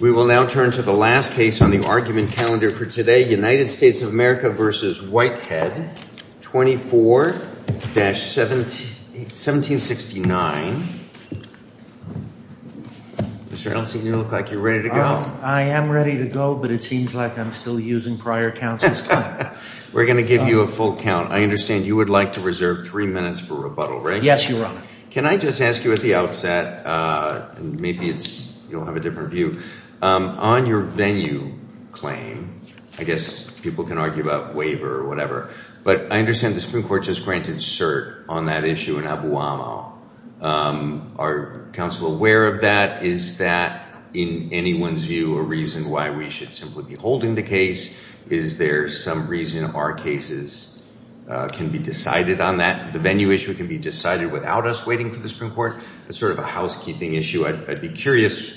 We will now turn to the last case on the argument calendar for today. United States of America v. Whitehead 24-1769. Mr. Nelson, you look like you're ready to go. I am ready to go, but it seems like I'm still using prior counts this time. We're going to give you a full count. I understand you would like to reserve three minutes for rebuttal, right? Yes, Your Honor. Can I just ask you at the outset, and maybe you'll have a different view, on your venue claim, I guess people can argue about waiver or whatever, but I understand the Supreme Court just granted cert on that issue in Abu Amal. Are counsel aware of that? Is that, in anyone's view, a reason why we should simply be holding the case? Is there some reason our cases can be decided on that? The venue issue can be decided without us waiting for the Supreme Court? It's sort of a housekeeping issue. I'd be curious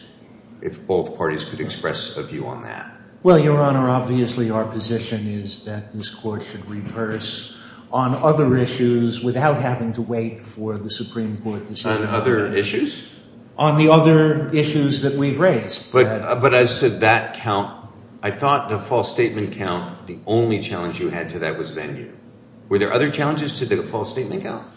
if both parties could express a view on that. Well, Your Honor, obviously our position is that this Court should reverse on other issues without having to wait for the Supreme Court to decide. On other issues? On the other issues that we've raised. But as to that count, I thought the false statement count, the only challenge you had to that was venue. Were there other challenges to the false statement count?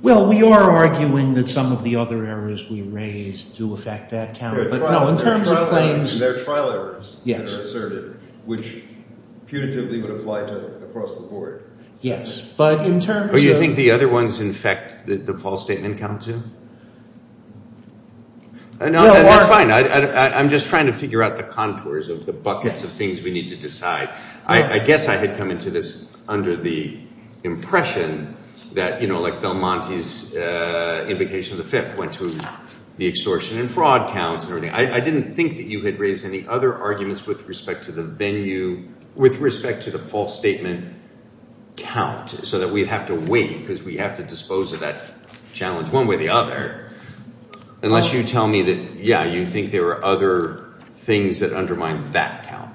Well, we are arguing that some of the other errors we raised do affect that count. No, in terms of claims. There are trial errors that are asserted, which punitively would apply to across the board. Yes, but in terms of... Oh, you think the other ones infect the false statement count, too? No, that's fine. I'm just trying to figure out the contours of the buckets of things we need to decide. I guess I had come into this under the impression that, you know, like Belmonte's invocation of the Fifth went to the extortion and fraud counts and everything. I didn't think that you had raised any other arguments with respect to the venue, with respect to the false statement count, so that we'd have to wait because we have to dispose of that challenge one way or the other, unless you tell me that, yeah, you think there are other things that undermine that count.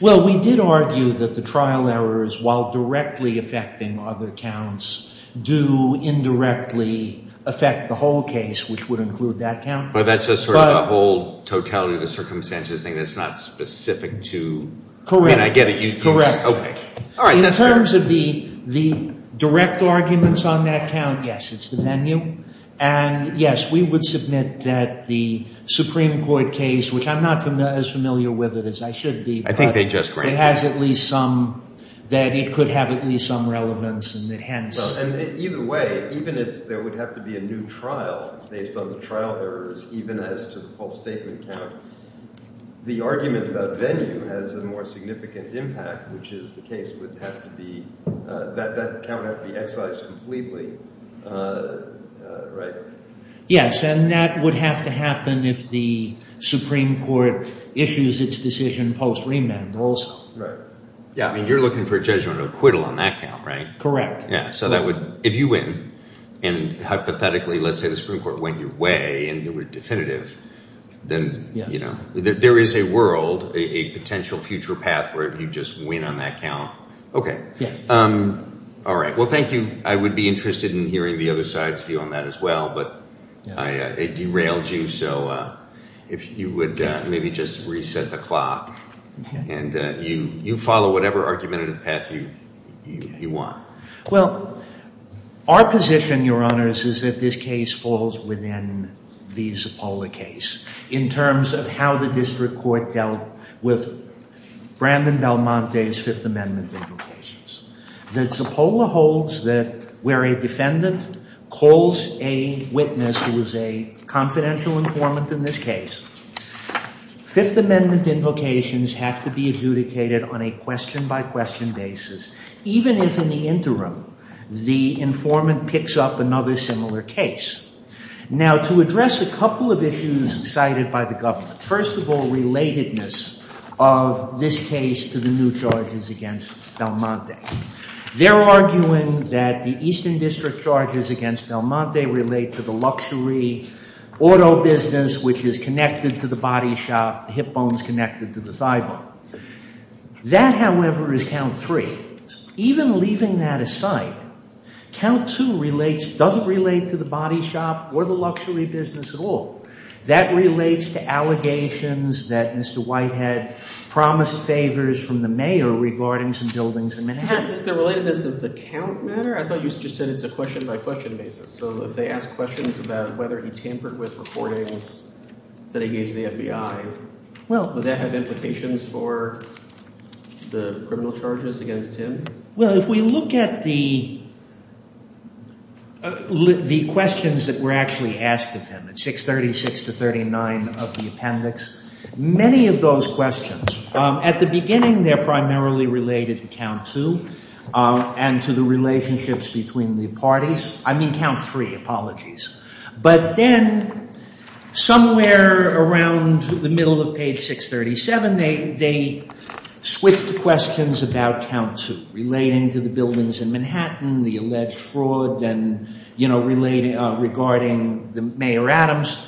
Well, we did argue that the trial errors, while directly affecting other counts, do indirectly affect the whole case, which would include that count. But that's just sort of a whole totality of the circumstances thing that's not specific to... Correct. I mean, I get it. You think... Okay. All right. That's fair. In terms of the direct arguments on that count, yes, it's the venue. And, yes, we would submit that the Supreme Court case, which I'm not as familiar with it as I should be... I think they just granted it. But it has at least some... that it could have at least some relevance and that hence... Well, and either way, even if there would have to be a new trial based on the trial errors, even as to the false statement count, the argument about venue has a more significant impact, which is the case would have to be that that count would have to be excised completely, right? Yes. And that would have to happen if the Supreme Court issues its decision post-remand also. Right. Yeah. I mean, you're looking for a judgment of acquittal on that count, right? Correct. Yeah. So that would... If you win and hypothetically, let's say the Supreme Court went your way and you were definitive, then there is a world, a potential future path where you just win on that count. Okay. Yes. All right. Well, thank you. I would be interested in hearing the other side's view on that as well, but it derailed you, so if you would maybe just reset the clock. And you follow whatever argumentative path you want. Well, our position, Your Honors, is that this case falls within the Zappola case in terms of how the district court dealt with Brandon Belmonte's Fifth Amendment invocations. The Zappola holds that where a defendant calls a witness who is a confidential informant in this case, Fifth Amendment invocations have to be adjudicated on a question-by-question basis, even if in the interim the informant picks up another similar case. Now, to address a couple of issues cited by the government, first of all, relatedness of this case to the new charges against Belmonte. They're arguing that the Eastern District charges against Belmonte relate to the luxury auto business, which is connected to the body shop, the hip bones connected to the thigh bone. That, however, is count three. Even leaving that aside, count two relates, doesn't relate to the body shop or the luxury business at all. That relates to allegations that Mr. Whitehead promised favors from the mayor regarding some buildings in Manhattan. Is there relatedness of the count matter? I thought you just said it's a question-by-question basis. So if they ask questions about whether he tampered with recordings that he gave to the FBI, would that have implications for the criminal charges against him? Well, if we look at the questions that were actually asked of him at 636 to 639 of the appendix, many of those questions, at the beginning they're primarily related to count two and to the relationships between the parties. I mean count three, apologies. But then somewhere around the middle of page 637, they switched to questions about count two, relating to the buildings in Manhattan, the alleged fraud, and, you know, regarding the Mayor Adams.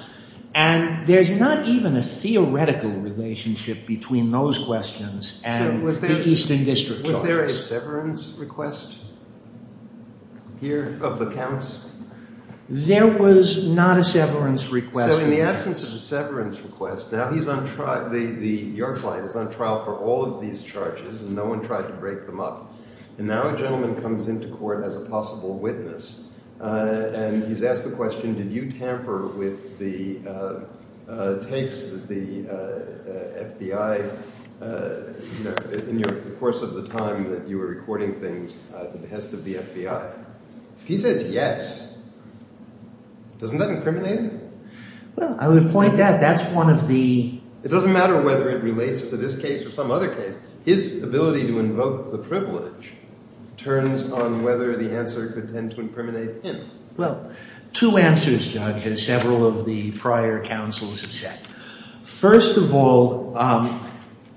And there's not even a theoretical relationship between those questions and the Eastern District charges. Was there a severance request here of the counts? There was not a severance request. So in the absence of a severance request, now he's on trial, your client is on trial for all of these charges, and no one tried to break them up. And now a gentleman comes into court as a possible witness, and he's asked the question, did you tamper with the tapes that the FBI, you know, in the course of the time that you were recording things at the behest of the FBI? If he says yes, doesn't that incriminate him? Well, I would point out that's one of the... It doesn't matter whether it relates to this case or some other case. His ability to invoke the privilege turns on whether the answer could tend to incriminate him. Well, two answers, Judge, as several of the prior counsels have said. First of all,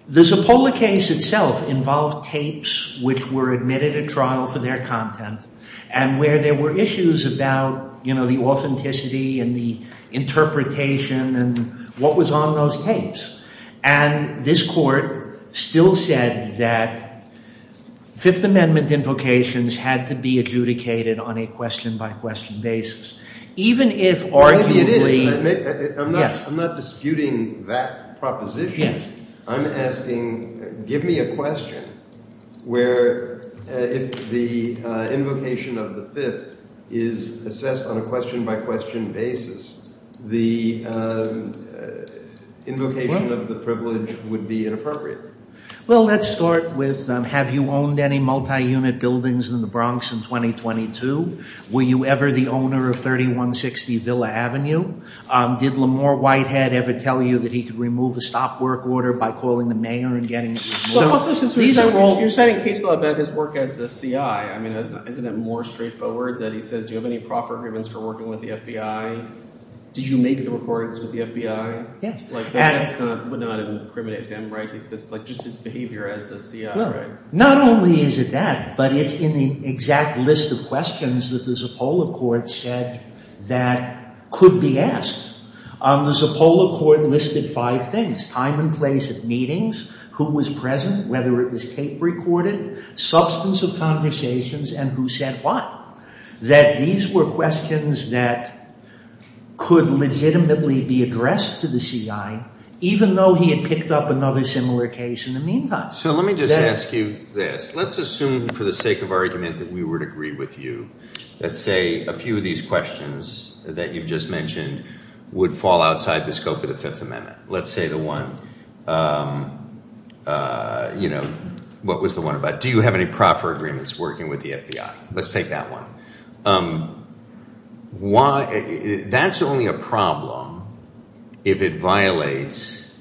the Zappola case itself involved tapes which were admitted at trial for their content and where there were issues about, you know, the authenticity and the interpretation and what was on those tapes. And this Court still said that Fifth Amendment invocations had to be adjudicated on a question-by-question basis, even if arguably... I'm not disputing that proposition. I'm asking give me a question where if the invocation of the Fifth is assessed on a question-by-question basis, the invocation of the privilege would be inappropriate. Well, let's start with have you owned any multi-unit buildings in the Bronx in 2022? Were you ever the owner of 3160 Villa Avenue? Did Lamar Whitehead ever tell you that he could remove a stop work order by calling the mayor and getting it removed? You're setting a case law about his work as a C.I. I mean, isn't it more straightforward that he says, do you have any proffer grievance for working with the FBI? Did you make the recordings with the FBI? Yes. Like that would not incriminate him, right? It's like just his behavior as a C.I., right? Not only is it that, but it's in the exact list of questions that the Zappola court said that could be asked. The Zappola court listed five things, time and place of meetings, who was present, whether it was tape recorded, substance of conversations, and who said what. That these were questions that could legitimately be addressed to the C.I., even though he had picked up another similar case in the meantime. So let me just ask you this. Let's assume for the sake of argument that we would agree with you. Let's say a few of these questions that you've just mentioned would fall outside the scope of the Fifth Amendment. Let's say the one, you know, what was the one about, do you have any proffer agreements working with the FBI? Let's take that one. That's only a problem if it violates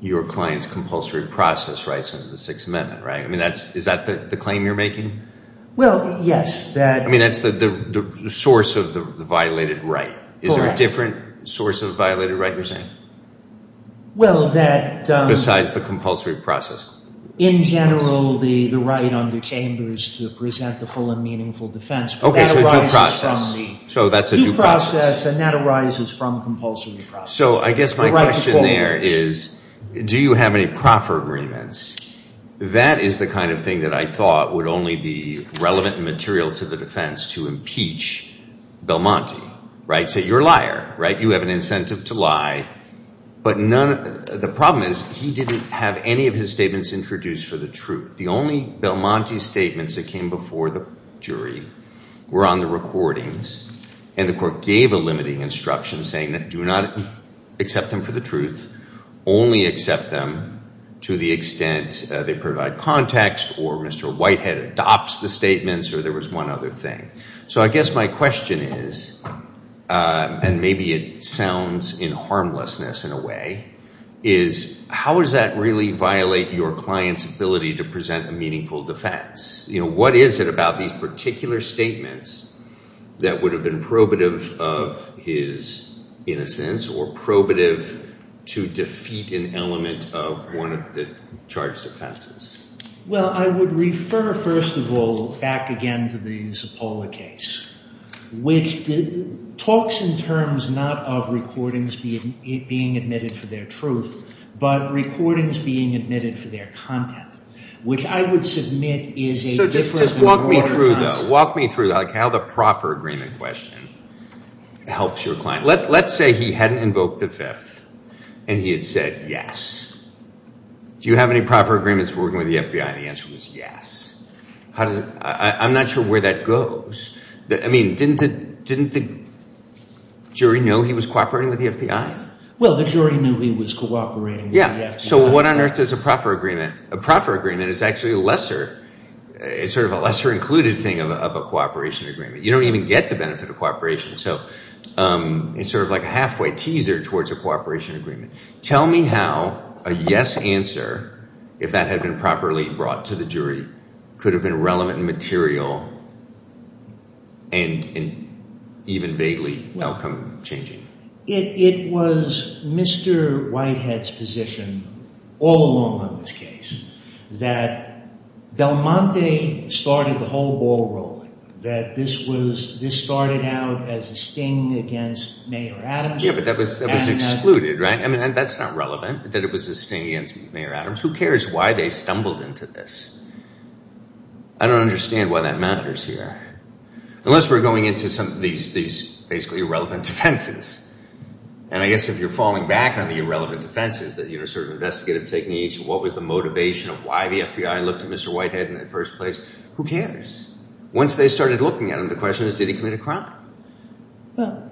your client's compulsory process rights under the Sixth Amendment, right? I mean, is that the claim you're making? Well, yes. I mean, that's the source of the violated right. Correct. Is there a different source of the violated right you're saying? Well, that- Besides the compulsory process. In general, the right under Chambers to present the full and meaningful defense. Okay, so due process. Due process, and that arises from compulsory process. So I guess my question there is, do you have any proffer agreements? That is the kind of thing that I thought would only be relevant material to the defense to impeach Belmonte, right? So you're a liar, right? You have an incentive to lie. But the problem is he didn't have any of his statements introduced for the truth. The only Belmonte statements that came before the jury were on the recordings, and the court gave a limiting instruction saying that do not accept them for the truth, only accept them to the extent they provide context or Mr. Whitehead adopts the statements, or there was one other thing. So I guess my question is, and maybe it sounds in harmlessness in a way, is how does that really violate your client's ability to present a meaningful defense? You know, what is it about these particular statements that would have been probative of his innocence or probative to defeat an element of one of the charged offenses? Well, I would refer, first of all, back again to the Zappolla case, which talks in terms not of recordings being admitted for their truth, but recordings being admitted for their content, which I would submit is a difference of waterfronts. So just walk me through, though. Walk me through how the proffer agreement question helps your client. Let's say he hadn't invoked the fifth and he had said yes. Do you have any proffer agreements working with the FBI? And the answer was yes. I'm not sure where that goes. I mean, didn't the jury know he was cooperating with the FBI? Well, the jury knew he was cooperating with the FBI. Yeah, so what on earth is a proffer agreement? A proffer agreement is actually a lesser included thing of a cooperation agreement. You don't even get the benefit of cooperation. So it's sort of like a halfway teaser towards a cooperation agreement. Tell me how a yes answer, if that had been properly brought to the jury, could have been relevant and material and even vaguely outcome changing. It was Mr. Whitehead's position all along on this case that Belmonte started the whole ball rolling, that this started out as a sting against Mayor Adams. Yeah, but that was excluded, right? I mean, that's not relevant, that it was a sting against Mayor Adams. Who cares why they stumbled into this? I don't understand why that matters here. Unless we're going into some of these basically irrelevant defenses. And I guess if you're falling back on the irrelevant defenses, that you're sort of an investigative technique, what was the motivation of why the FBI looked at Mr. Whitehead in the first place? Who cares? Once they started looking at him, the question is, did he commit a crime? No.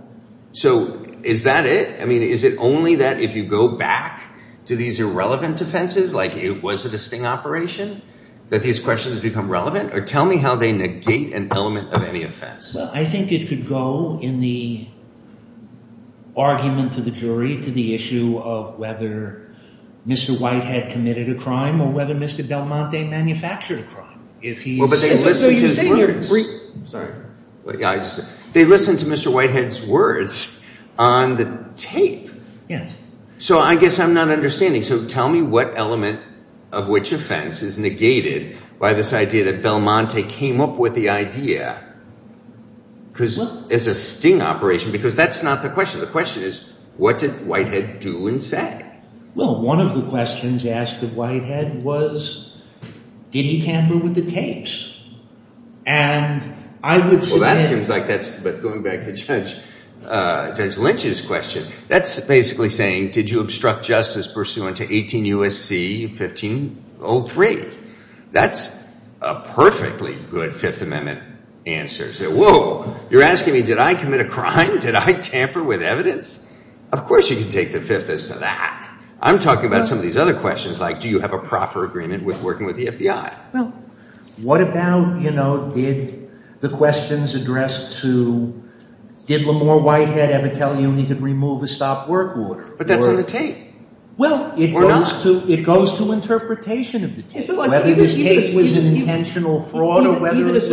So is that it? I mean, is it only that if you go back to these irrelevant defenses, like was it a sting operation, that these questions become relevant? Or tell me how they negate an element of any offense. I think it could go in the argument to the jury to the issue of whether Mr. Whitehead committed a crime or whether Mr. Belmonte manufactured a crime. But they listen to his words. They listen to Mr. Whitehead's words on the tape. So I guess I'm not understanding. So tell me what element of which offense is negated by this idea that Belmonte came up with the idea as a sting operation. Because that's not the question. The question is, what did Whitehead do and say? Well, one of the questions asked of Whitehead was, did he tamper with the tapes? And I would say- Well, that seems like that's- but going back to Judge Lynch's question, that's basically saying, did you obstruct justice pursuant to 18 U.S.C. 1503? That's a perfectly good Fifth Amendment answer. Say, whoa, you're asking me, did I commit a crime? Did I tamper with evidence? Of course you can take the Fifth as to that. I'm talking about some of these other questions like, do you have a proper agreement with working with the FBI? Well, what about, you know, did the questions addressed to, did Lamar Whitehead ever tell you he could remove a stop work order? But that's on the tape. Well, it goes to interpretation of the tape. Whether this tape was an intentional fraud or whether it was-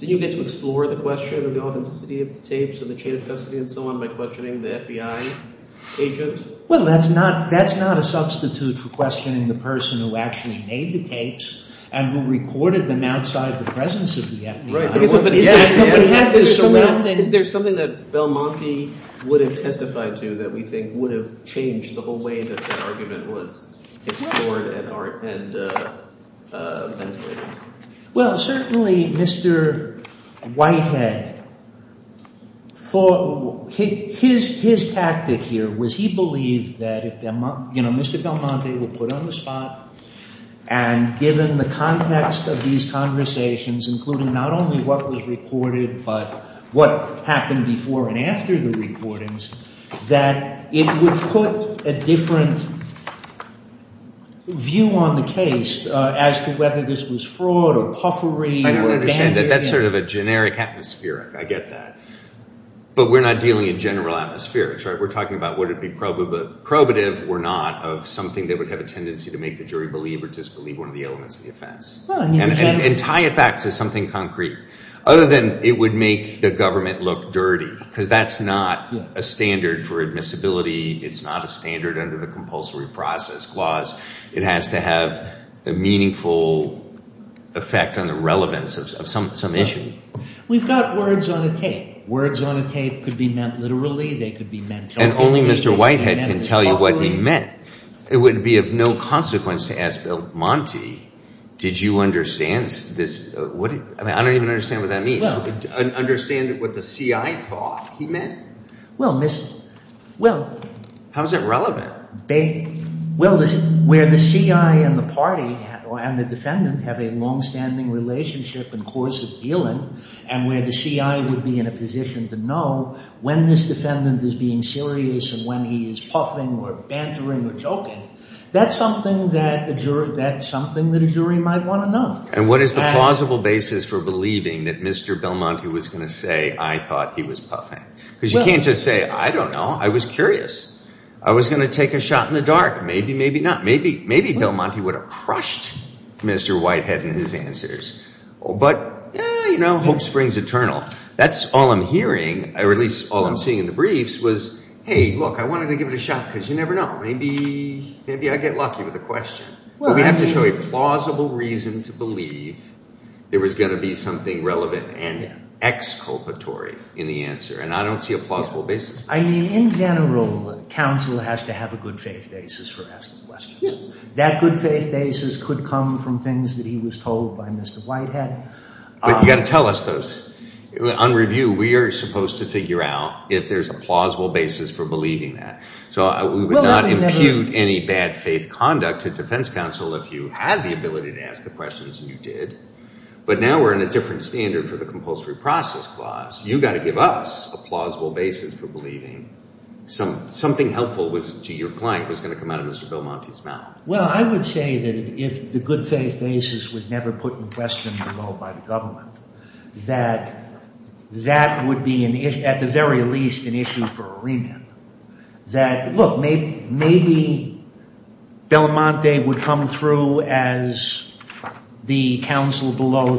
Did you get to explore the question of the authenticity of the tapes and the chain of custody and so on by questioning the FBI agent? Well, that's not a substitute for questioning the person who actually made the tapes and who recorded them outside the presence of the FBI. Right. Is there something that Belmonte would have testified to that we think would have changed the whole way that that argument was explored and- Well, certainly Mr. Whitehead thought, his tactic here was he believed that if, you know, Mr. Belmonte would put on the spot and given the context of these conversations, including not only what was recorded but what happened before and after the recordings, that it would put a different view on the case as to whether this was fraud or puffery or- I understand that. That's sort of a generic atmospheric. I get that. But we're not dealing in general atmospherics, right? We're talking about would it be probative or not of something that would have a tendency to make the jury believe or disbelieve one of the elements of the offense. And tie it back to something concrete other than it would make the government look dirty because that's not a standard for admissibility. It's not a standard under the compulsory process clause. It has to have a meaningful effect on the relevance of some issue. We've got words on a tape. Words on a tape could be meant literally. They could be meant telepathically. And only Mr. Whitehead can tell you what he meant. It would be of no consequence to ask Bill Monty, did you understand this? I don't even understand what that means. Understand what the CI thought he meant? Well, Mr. How is that relevant? Well, where the CI and the party and the defendant have a longstanding relationship and course of dealing and where the CI would be in a position to know when this defendant is being serious and when he is puffing or bantering or joking, that's something that a jury might want to know. And what is the plausible basis for believing that Mr. Bill Monty was going to say I thought he was puffing? Because you can't just say I don't know. I was curious. I was going to take a shot in the dark. Maybe, maybe not. Maybe, maybe Bill Monty would have crushed Mr. Whitehead and his answers. But, you know, hope springs eternal. That's all I'm hearing. I release all I'm seeing in the briefs was, hey, look, I wanted to give it a shot because you never know. Maybe, maybe I get lucky with the question. We have to show a plausible reason to believe there was going to be something relevant and exculpatory in the answer. And I don't see a plausible basis. I mean, in general, counsel has to have a good faith basis for asking questions. That good faith basis could come from things that he was told by Mr. Whitehead. But you've got to tell us those. On review, we are supposed to figure out if there's a plausible basis for believing that. So we would not impute any bad faith conduct to defense counsel if you had the ability to ask the questions and you did. But now we're in a different standard for the compulsory process clause. You've got to give us a plausible basis for believing something helpful to your client was going to come out of Mr. Belmonte's mouth. Well, I would say that if the good faith basis was never put in question below by the government, that that would be, at the very least, an issue for a remand. That, look, maybe Belmonte would come through as the counsel below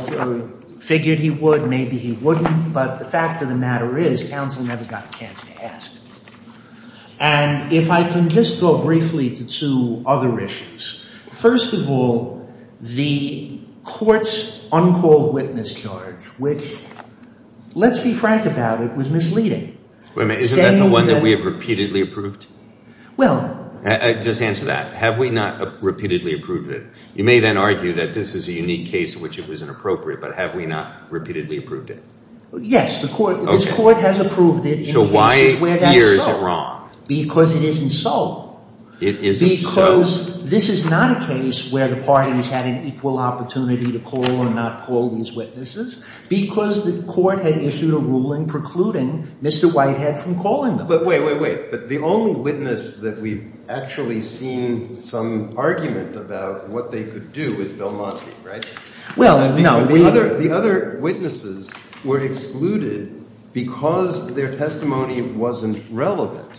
figured he would. Maybe he wouldn't. But the fact of the matter is, counsel never got a chance to ask. And if I can just go briefly to two other issues. First of all, the court's uncalled witness charge, which, let's be frank about it, was misleading. Wait a minute. Isn't that the one that we have repeatedly approved? Well. Just answer that. Have we not repeatedly approved it? You may then argue that this is a unique case in which it was inappropriate. But have we not repeatedly approved it? Yes. This court has approved it. So why fear is it wrong? Because it isn't so. It isn't so? Because this is not a case where the parties had an equal opportunity to call or not call these witnesses. Because the court had issued a ruling precluding Mr. Whitehead from calling them. But wait, wait, wait. The only witness that we've actually seen some argument about what they could do is Belmonte, right? Well, no. The other witnesses were excluded because their testimony wasn't relevant.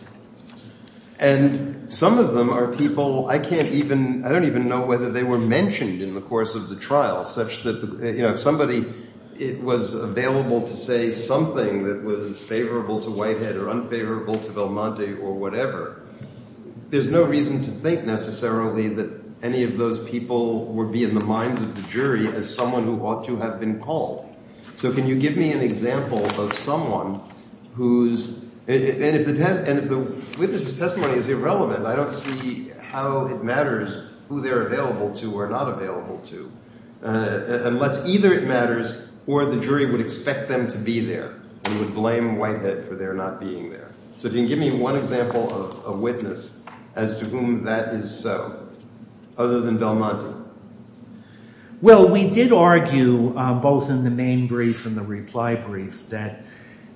And some of them are people I can't even – I don't even know whether they were mentioned in the course of the trial such that – if somebody was available to say something that was favorable to Whitehead or unfavorable to Belmonte or whatever, there's no reason to think necessarily that any of those people would be in the minds of the jury as someone who ought to have been called. So can you give me an example of someone who's – and if the witness's testimony is irrelevant, I don't see how it matters who they're available to or not available to. Unless either it matters or the jury would expect them to be there and would blame Whitehead for their not being there. So if you can give me one example of a witness as to whom that is so other than Belmonte. Well, we did argue both in the main brief and the reply brief that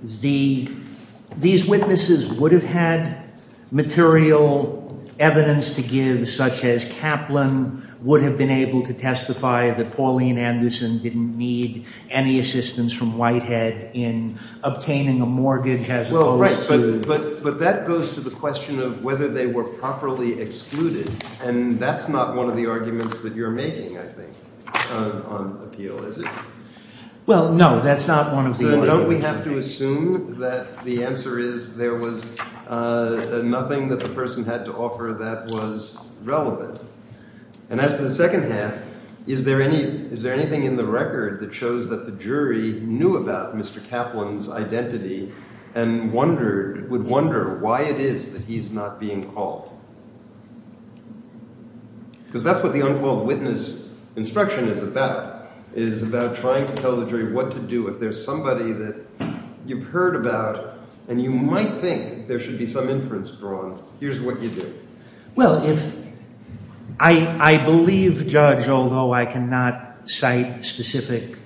the – material evidence to give such as Kaplan would have been able to testify that Pauline Anderson didn't need any assistance from Whitehead in obtaining a mortgage as opposed to – Well, right. But that goes to the question of whether they were properly excluded. And that's not one of the arguments that you're making, I think, on appeal, is it? Well, no. That's not one of the – Don't we have to assume that the answer is there was nothing that the person had to offer that was relevant? And as to the second half, is there anything in the record that shows that the jury knew about Mr. Kaplan's identity and wondered – would wonder why it is that he's not being called? Because that's what the unquote witness instruction is about. It is about trying to tell the jury what to do if there's somebody that you've heard about and you might think there should be some inference drawn. Here's what you do. Well, if – I believe, Judge, although I cannot cite specific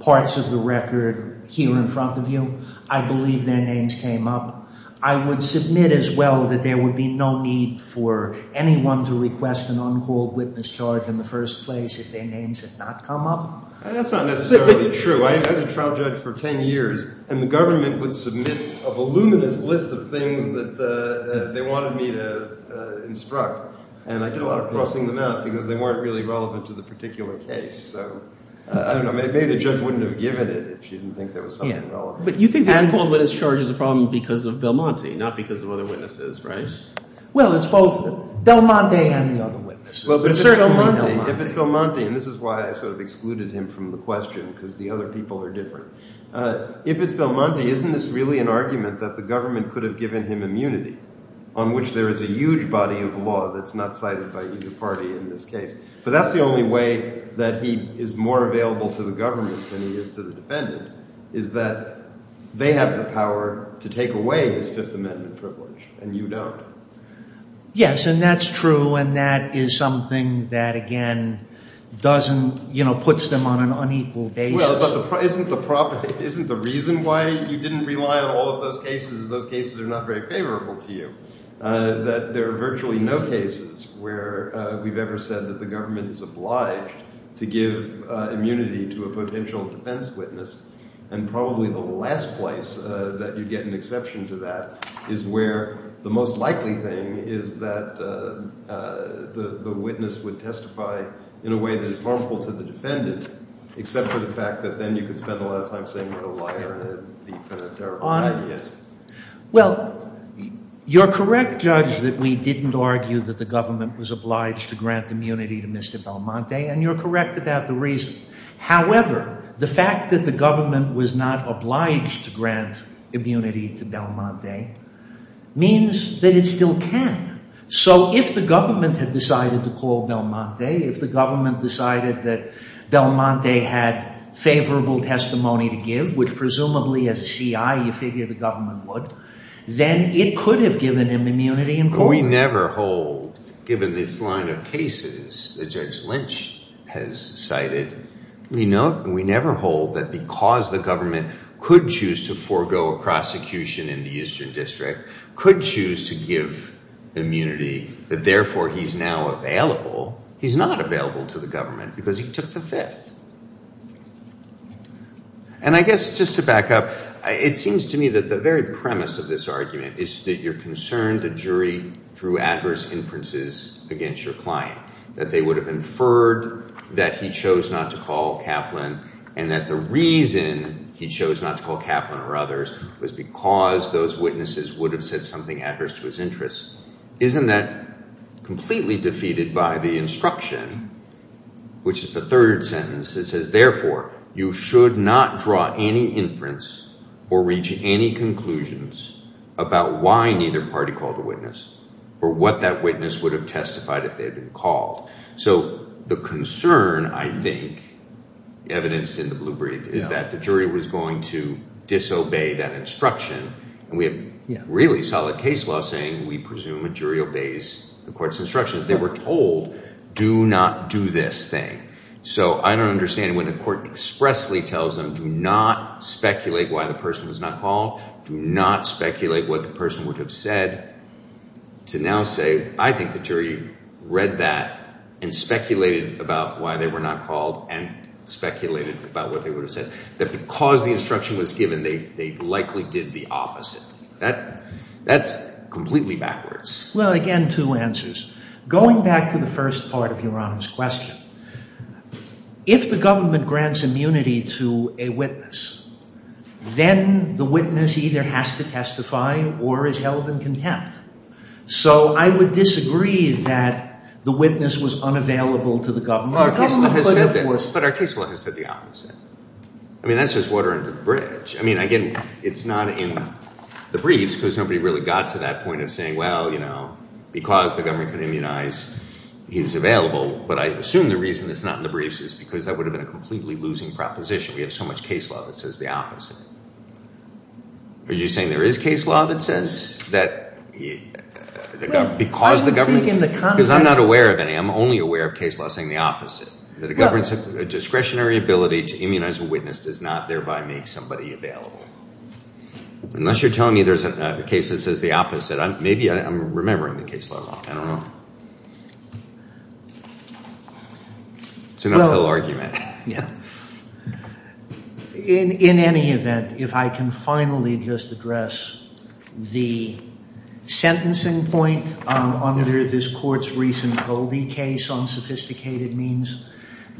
parts of the record here in front of you, I believe their names came up. I would submit as well that there would be no need for anyone to request an uncalled witness charge in the first place if their names had not come up. That's not necessarily true. I was a trial judge for ten years, and the government would submit a voluminous list of things that they wanted me to instruct. And I did a lot of crossing them out because they weren't really relevant to the particular case. So I don't know. Maybe the judge wouldn't have given it if she didn't think there was something relevant. But you think the uncalled witness charge is a problem because of Belmonte, not because of other witnesses, right? Well, it's both Belmonte and the other witnesses, but certainly Belmonte. If it's Belmonte – and this is why I sort of excluded him from the question because the other people are different. If it's Belmonte, isn't this really an argument that the government could have given him immunity on which there is a huge body of law that's not cited by either party in this case? But that's the only way that he is more available to the government than he is to the defendant is that they have the power to take away his Fifth Amendment privilege and you don't. Yes, and that's true, and that is something that, again, doesn't – puts them on an unequal basis. Well, but isn't the reason why you didn't rely on all of those cases is those cases are not very favorable to you, that there are virtually no cases where we've ever said that the government is obliged to give immunity to a potential defense witness. And probably the last place that you get an exception to that is where the most likely thing is that the witness would testify in a way that is harmful to the defendant except for the fact that then you could spend a lot of time saying that a liar and a thief and a terrible guy he is. Well, you're correct, Judge, that we didn't argue that the government was obliged to grant immunity to Mr. Belmonte, and you're correct about the reason. However, the fact that the government was not obliged to grant immunity to Belmonte means that it still can. So if the government had decided to call Belmonte, if the government decided that Belmonte had favorable testimony to give, which presumably as a CI you figure the government would, then it could have given him immunity in court. We never hold, given this line of cases that Judge Lynch has cited, we never hold that because the government could choose to forego a prosecution in the Eastern District, could choose to give immunity, that therefore he's now available. He's not available to the government because he took the Fifth. And I guess just to back up, it seems to me that the very premise of this argument is that you're concerned the jury drew adverse inferences against your client, that they would have inferred that he chose not to call Kaplan and that the reason he chose not to call Kaplan or others was because those witnesses would have said something adverse to his interests. Isn't that completely defeated by the instruction, which is the third sentence that says, therefore, you should not draw any inference or reach any conclusions about why neither party called a witness or what that witness would have testified if they had been called. So the concern, I think, evidenced in the blue brief, is that the jury was going to disobey that instruction and we have really solid case law saying we presume a jury obeys the court's instructions. They were told, do not do this thing. So I don't understand when the court expressly tells them, do not speculate why the person was not called, do not speculate what the person would have said, to now say, I think the jury read that and speculated about why they were not called and speculated about what they would have said. That because the instruction was given, they likely did the opposite. That's completely backwards. Well, again, two answers. Going back to the first part of Your Honor's question, if the government grants immunity to a witness, then the witness either has to testify or is held in contempt. So I would disagree that the witness was unavailable to the government. But our case law has said the opposite. I mean, that's just water under the bridge. I mean, again, it's not in the briefs because nobody really got to that point of saying, well, you know, because the government could immunize, he was available. But I assume the reason it's not in the briefs is because that would have been a completely losing proposition. We have so much case law that says the opposite. Are you saying there is case law that says that because the government – because I'm not aware of any. I'm only aware of case law saying the opposite. That a discretionary ability to immunize a witness does not thereby make somebody available. Unless you're telling me there's a case that says the opposite. Maybe I'm remembering the case law wrong. I don't know. It's an uphill argument. In any event, if I can finally just address the sentencing point under this court's recent Goldie case on sophisticated means.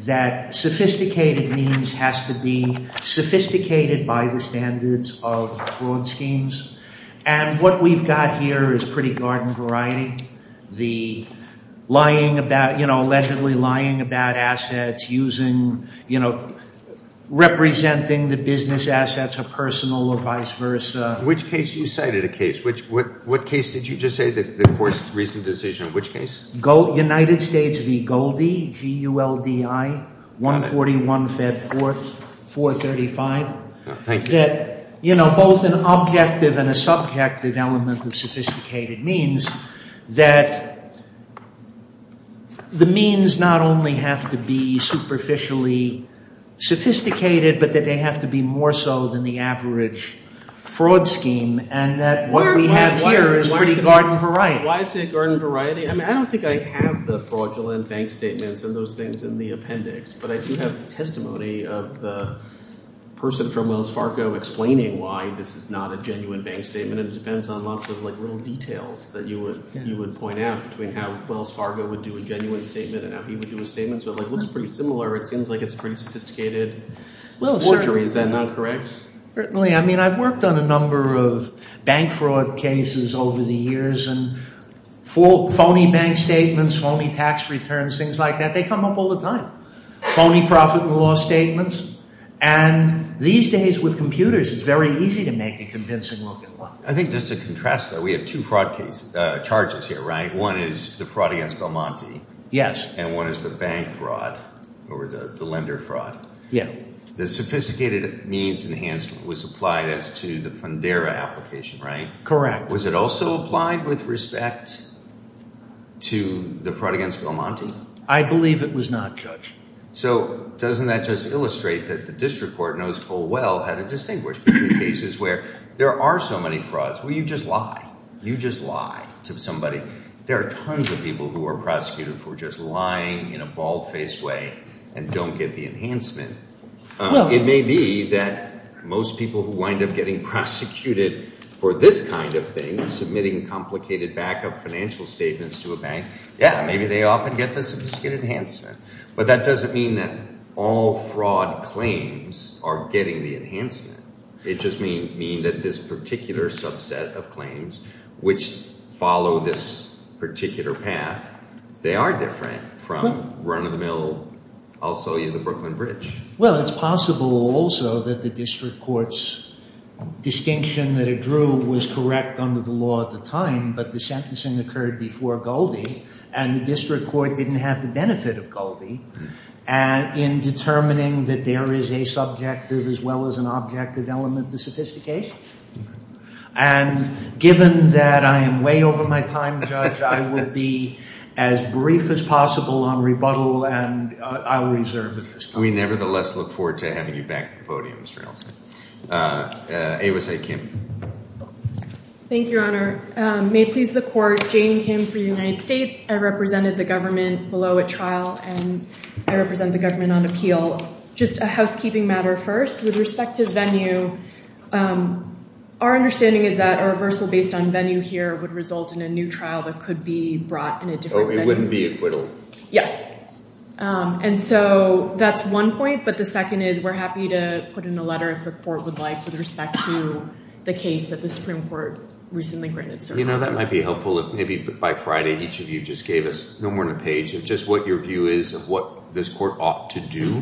That sophisticated means has to be sophisticated by the standards of fraud schemes. And what we've got here is pretty garden variety. The lying about, you know, allegedly lying about assets using, you know, representing the business assets are personal or vice versa. Which case you cited a case? What case did you just say the court's recent decision? Which case? United States v. Goldie, G-U-L-D-I, 141 Fed 4th, 435. Thank you. Both an objective and a subjective element of sophisticated means. That the means not only have to be superficially sophisticated. But that they have to be more so than the average fraud scheme. And that what we have here is pretty garden variety. Why is it garden variety? I don't think I have the fraudulent bank statements and those things in the appendix. But I do have testimony of the person from Wells Fargo explaining why this is not a genuine bank statement. And it depends on lots of little details that you would point out between how Wells Fargo would do a genuine statement and how he would do a statement. So it looks pretty similar. It seems like it's pretty sophisticated forgery. Is that not correct? Certainly. I mean I've worked on a number of bank fraud cases over the years. And phony bank statements, phony tax returns, things like that. They come up all the time. Phony profit and loss statements. And these days with computers, it's very easy to make a convincing look at them. I think just to contrast that, we have two fraud charges here, right? One is the fraud against Belmonte. Yes. And one is the bank fraud or the lender fraud. Yeah. The sophisticated means enhancement was applied as to the Fundera application, right? Correct. Was it also applied with respect to the fraud against Belmonte? I believe it was not, Judge. So doesn't that just illustrate that the district court knows full well how to distinguish between cases where there are so many frauds. Well, you just lie. You just lie to somebody. There are tons of people who are prosecuted for just lying in a bald-faced way and don't get the enhancement. It may be that most people who wind up getting prosecuted for this kind of thing, submitting complicated backup financial statements to a bank, yeah, maybe they often get the sophisticated enhancement. But that doesn't mean that all fraud claims are getting the enhancement. It just may mean that this particular subset of claims which follow this particular path, they are different from run-of-the-mill, I'll sell you the Brooklyn Bridge. Well, it's possible also that the district court's distinction that it drew was correct under the law at the time, but the sentencing occurred before Goldie, and the district court didn't have the benefit of Goldie in determining that there is a subjective as well as an objective element to sophistication. And given that I am way over my time, Judge, I will be as brief as possible on rebuttal, and I'll reserve at this time. We nevertheless look forward to having you back at the podium, Mr. Nelson. AYWSA, Kim. Thank you, Your Honor. May it please the Court, Jane Kim for the United States. I represented the government below at trial, and I represent the government on appeal. Just a housekeeping matter first. With respect to venue, our understanding is that a reversal based on venue here would result in a new trial that could be brought in a different venue. Oh, it wouldn't be acquittal? Yes. And so that's one point, but the second is we're happy to put in a letter, if the Court would like, with respect to the case that the Supreme Court recently granted cert. You know, that might be helpful if maybe by Friday each of you just gave us no more than a page of just what your view is of what this Court ought to do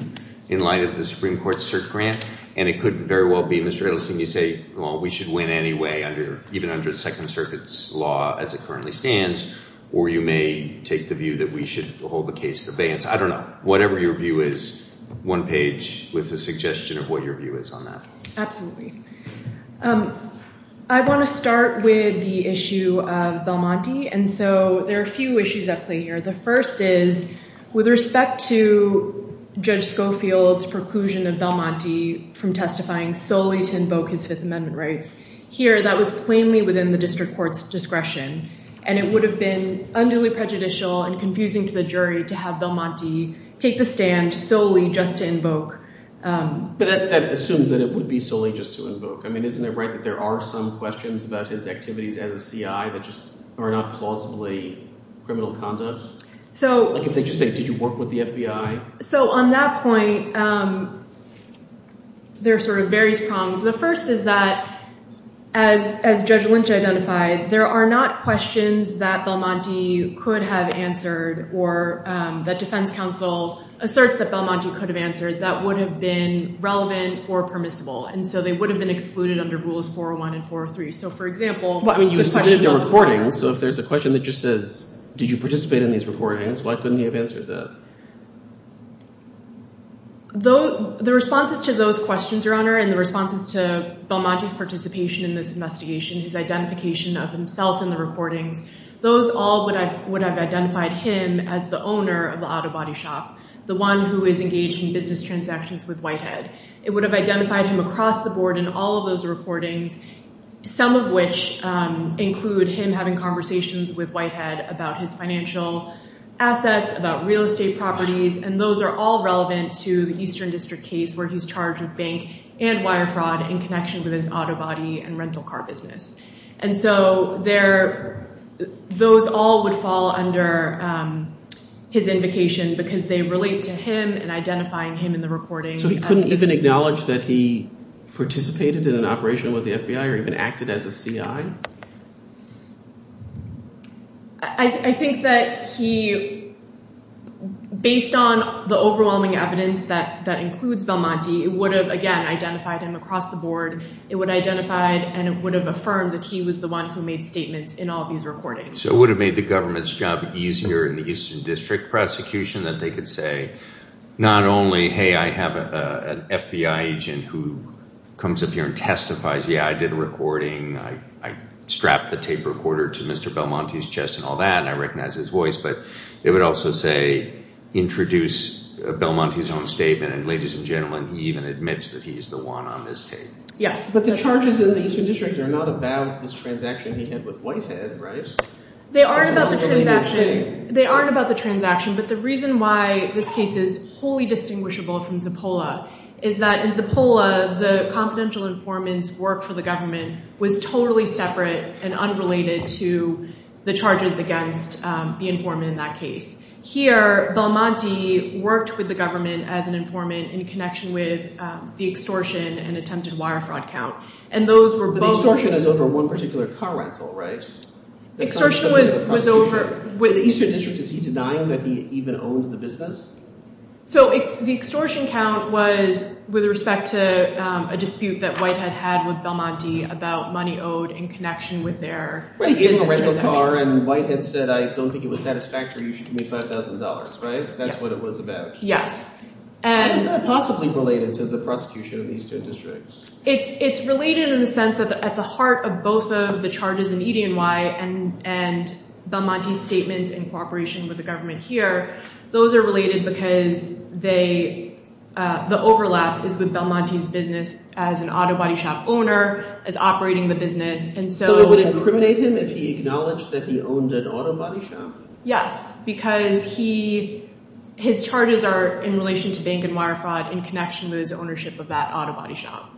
in light of the Supreme Court's cert grant. And it could very well be, Mr. Edelstein, you say, well, we should win anyway, even under Second Circuit's law as it currently stands, or you may take the view that we should hold the case at abeyance. I don't know. Whatever your view is, one page with a suggestion of what your view is on that. Absolutely. I want to start with the issue of Belmonte, and so there are a few issues at play here. The first is with respect to Judge Schofield's preclusion of Belmonte from testifying solely to invoke his Fifth Amendment rights. Here, that was plainly within the district court's discretion, and it would have been unduly prejudicial and confusing to the jury to have Belmonte take the stand solely just to invoke. But that assumes that it would be solely just to invoke. I mean, isn't it right that there are some questions about his activities as a CI that just are not plausibly criminal conduct? Like if they just say, did you work with the FBI? So on that point, there are sort of various problems. The first is that, as Judge Lynch identified, there are not questions that Belmonte could have answered or that defense counsel asserts that Belmonte could have answered that would have been relevant or permissible. And so they would have been excluded under Rules 401 and 403. So, for example— Well, I mean, you submitted the recordings, so if there's a question that just says, did you participate in these recordings, why couldn't he have answered that? The responses to those questions, Your Honor, and the responses to Belmonte's participation in this investigation, his identification of himself in the recordings, those all would have identified him as the owner of the auto body shop, the one who is engaged in business transactions with Whitehead. It would have identified him across the board in all of those recordings, some of which include him having conversations with Whitehead about his financial assets, about real estate properties, and those are all relevant to the Eastern District case where he's charged with bank and wire fraud in connection with his auto body and rental car business. And so those all would fall under his invocation because they relate to him and identifying him in the recordings. So he couldn't even acknowledge that he participated in an operation with the FBI or even acted as a CI? I think that he—based on the overwhelming evidence that includes Belmonte, it would have, again, identified him across the board. It would have identified and it would have affirmed that he was the one who made statements in all of these recordings. So it would have made the government's job easier in the Eastern District prosecution that they could say not only, hey, I have an FBI agent who comes up here and testifies. Yeah, I did a recording. I strapped the tape recorder to Mr. Belmonte's chest and all that, and I recognize his voice. But it would also say introduce Belmonte's own statement, and ladies and gentlemen, he even admits that he's the one on this tape. But the charges in the Eastern District are not about this transaction he had with Whitehead, right? They aren't about the transaction, but the reason why this case is wholly distinguishable from Zippola is that in Zippola, the confidential informant's work for the government was totally separate and unrelated to the charges against the informant in that case. Here, Belmonte worked with the government as an informant in connection with the extortion and attempted wire fraud count, and those were both – Extortion is over one particular car rental, right? Extortion was over – With the Eastern District, is he denying that he even owned the business? So the extortion count was with respect to a dispute that Whitehead had with Belmonte about money owed in connection with their – He gave him a rental car, and Whitehead said I don't think it was satisfactory. You should give me $5,000, right? That's what it was about. Yes. How is that possibly related to the prosecution of the Eastern District? It's related in the sense that at the heart of both of the charges in EDNY and Belmonte's statements in cooperation with the government here, those are related because they – the overlap is with Belmonte's business as an auto body shop owner, as operating the business, and so – So it would incriminate him if he acknowledged that he owned an auto body shop? Yes, because he – his charges are in relation to bank and wire fraud in connection with his ownership of that auto body shop.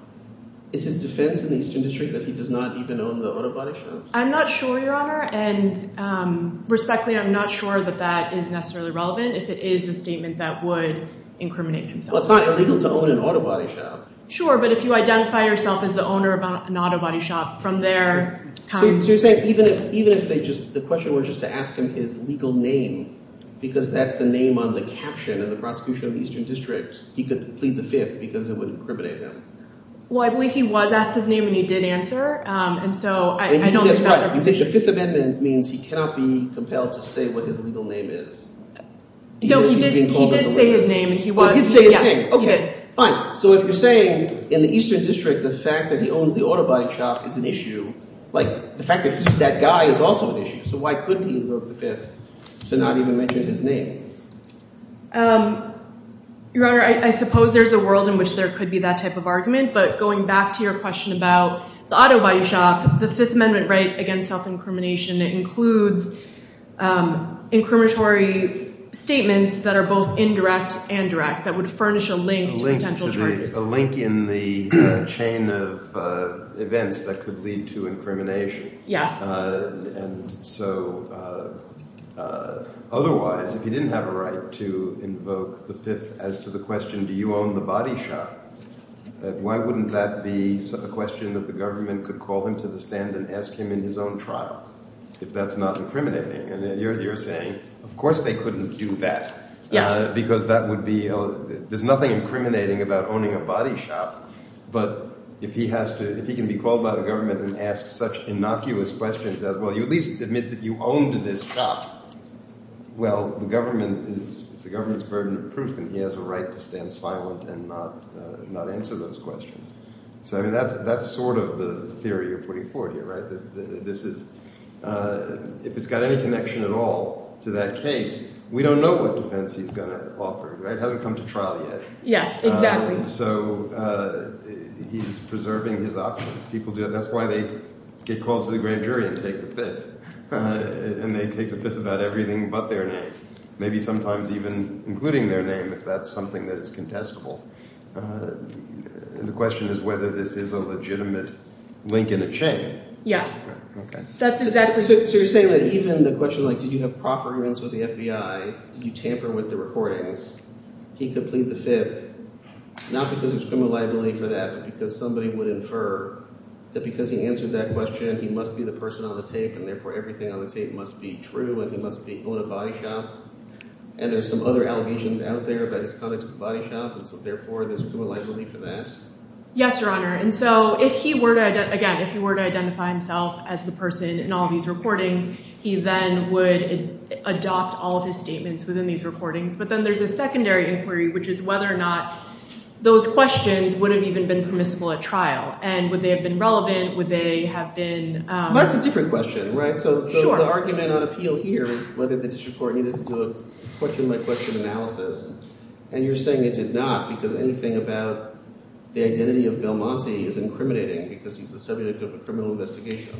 Is his defense in the Eastern District that he does not even own the auto body shop? I'm not sure, Your Honor, and respectfully, I'm not sure that that is necessarily relevant if it is a statement that would incriminate himself. Well, it's not illegal to own an auto body shop. Sure, but if you identify yourself as the owner of an auto body shop, from there comes – So you're saying even if they just – the question was just to ask him his legal name because that's the name on the caption in the prosecution of the Eastern District, he could plead the Fifth because it would incriminate him? Well, I believe he was asked his name and he did answer, and so I don't think that's our position. Fifth Amendment means he cannot be compelled to say what his legal name is. No, he did say his name and he was – He did say his name. Yes, he did. Fine. So if you're saying in the Eastern District the fact that he owns the auto body shop is an issue, like the fact that he's that guy is also an issue, so why couldn't he invoke the Fifth to not even mention his name? Your Honor, I suppose there's a world in which there could be that type of argument, but going back to your question about the auto body shop, the Fifth Amendment right against self-incrimination, it includes incriminatory statements that are both indirect and direct that would furnish a link to – A link in the chain of events that could lead to incrimination. Yes. And so otherwise, if he didn't have a right to invoke the Fifth as to the question, do you own the body shop, why wouldn't that be a question that the government could call him to the stand and ask him in his own trial if that's not incriminating? And you're saying of course they couldn't do that because that would be – there's nothing incriminating about owning a body shop, but if he has to – if he can be called by the government and asked such innocuous questions as, well, you at least admit that you owned this shop, well, the government is – it's the government's burden of proof and he has a right to stand silent and not answer those questions. So that's sort of the theory you're putting forward here, right? This is – if it's got any connection at all to that case, we don't know what defense he's going to offer. It hasn't come to trial yet. Yes, exactly. So he's preserving his options. People do – that's why they get called to the grand jury and take the Fifth, and they take the Fifth about everything but their name, maybe sometimes even including their name if that's something that is contestable. And the question is whether this is a legitimate link in a chain. Yes. Okay. That's exactly – So you're saying that even the question like did you have proper agreements with the FBI? Did you tamper with the recordings? He could plead the Fifth not because there's criminal liability for that, but because somebody would infer that because he answered that question, he must be the person on the tape, and therefore everything on the tape must be true and he must be owning a body shop. And there's some other allegations out there about his conduct at the body shop, and so therefore there's criminal liability for that? Yes, Your Honor. And so if he were to – again, if he were to identify himself as the person in all these recordings, he then would adopt all of his statements within these recordings. But then there's a secondary inquiry, which is whether or not those questions would have even been permissible at trial, and would they have been relevant? Would they have been – Well, that's a different question, right? So the argument on appeal here is whether the district court needed to do a question-by-question analysis. And you're saying it did not because anything about the identity of Belmonte is incriminating because he's the subject of a criminal investigation.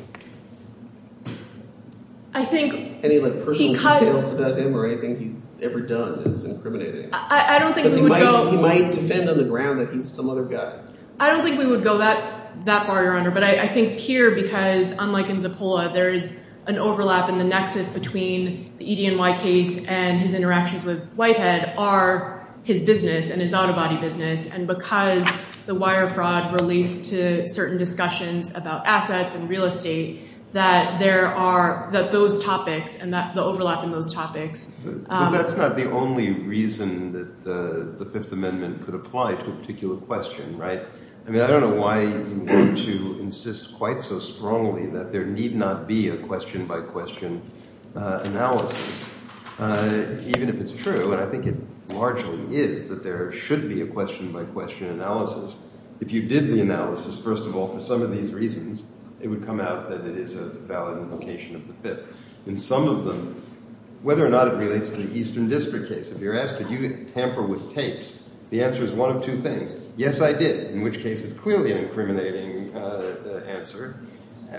I think – Any personal details about him or anything he's ever done is incriminating. I don't think we would go – Because he might defend on the ground that he's some other guy. I don't think we would go that far, Your Honor. But I think here, because unlike in Zappola, there is an overlap in the nexus between the EDNY case and his interactions with Whitehead are his business and his auto body business. And because the wire fraud relates to certain discussions about assets and real estate, that there are – that those topics and the overlap in those topics – I mean, I don't know why you need to insist quite so strongly that there need not be a question-by-question analysis, even if it's true. And I think it largely is that there should be a question-by-question analysis. If you did the analysis, first of all, for some of these reasons, it would come out that it is a valid implication of the Fifth. In some of them, whether or not it relates to the Eastern District case, if you're asked, did you tamper with tapes, the answer is one of two things. Yes, I did, in which case it's clearly an incriminating answer.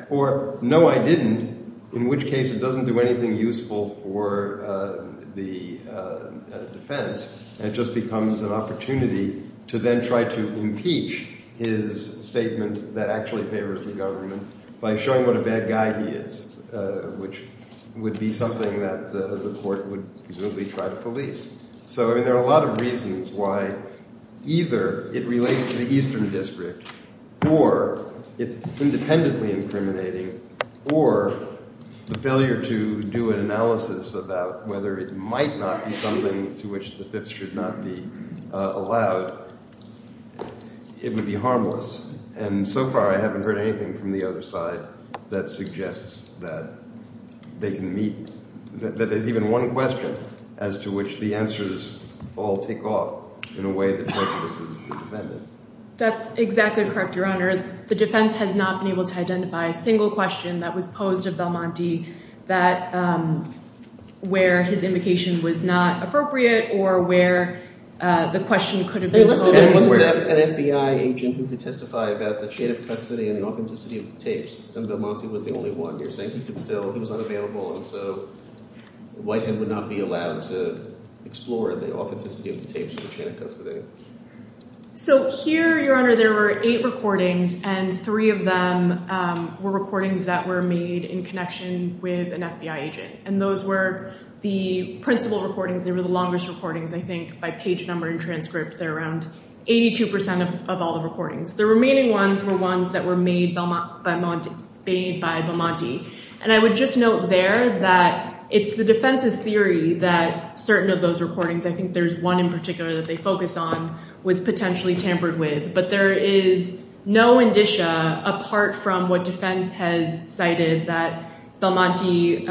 Or no, I didn't, in which case it doesn't do anything useful for the defense. It just becomes an opportunity to then try to impeach his statement that actually favors the government by showing what a bad guy he is, which would be something that the court would presumably try to police. So, I mean, there are a lot of reasons why either it relates to the Eastern District or it's independently incriminating, or the failure to do an analysis about whether it might not be something to which the Fifth should not be allowed, it would be harmless. And so far, I haven't heard anything from the other side that suggests that they can meet – that there's even one question as to which the answers all take off in a way that prejudices the defendant. That's exactly correct, Your Honor. The defense has not been able to identify a single question that was posed of Belmonte that – where his invocation was not appropriate or where the question could have been – There wasn't an FBI agent who could testify about the chain of custody and the authenticity of the tapes, and Belmonte was the only one. You're saying he could still – he was unavailable, and so Whitehead would not be allowed to explore the authenticity of the tapes or the chain of custody. So here, Your Honor, there were eight recordings, and three of them were recordings that were made in connection with an FBI agent. And those were the principal recordings. They were the longest recordings, I think, by page number and transcript. They're around 82% of all the recordings. The remaining ones were ones that were made by Belmonte – bade by Belmonte. And I would just note there that it's the defense's theory that certain of those recordings – I think there's one in particular that they focus on – was potentially tampered with. But there is no indicia apart from what defense has cited that Belmonte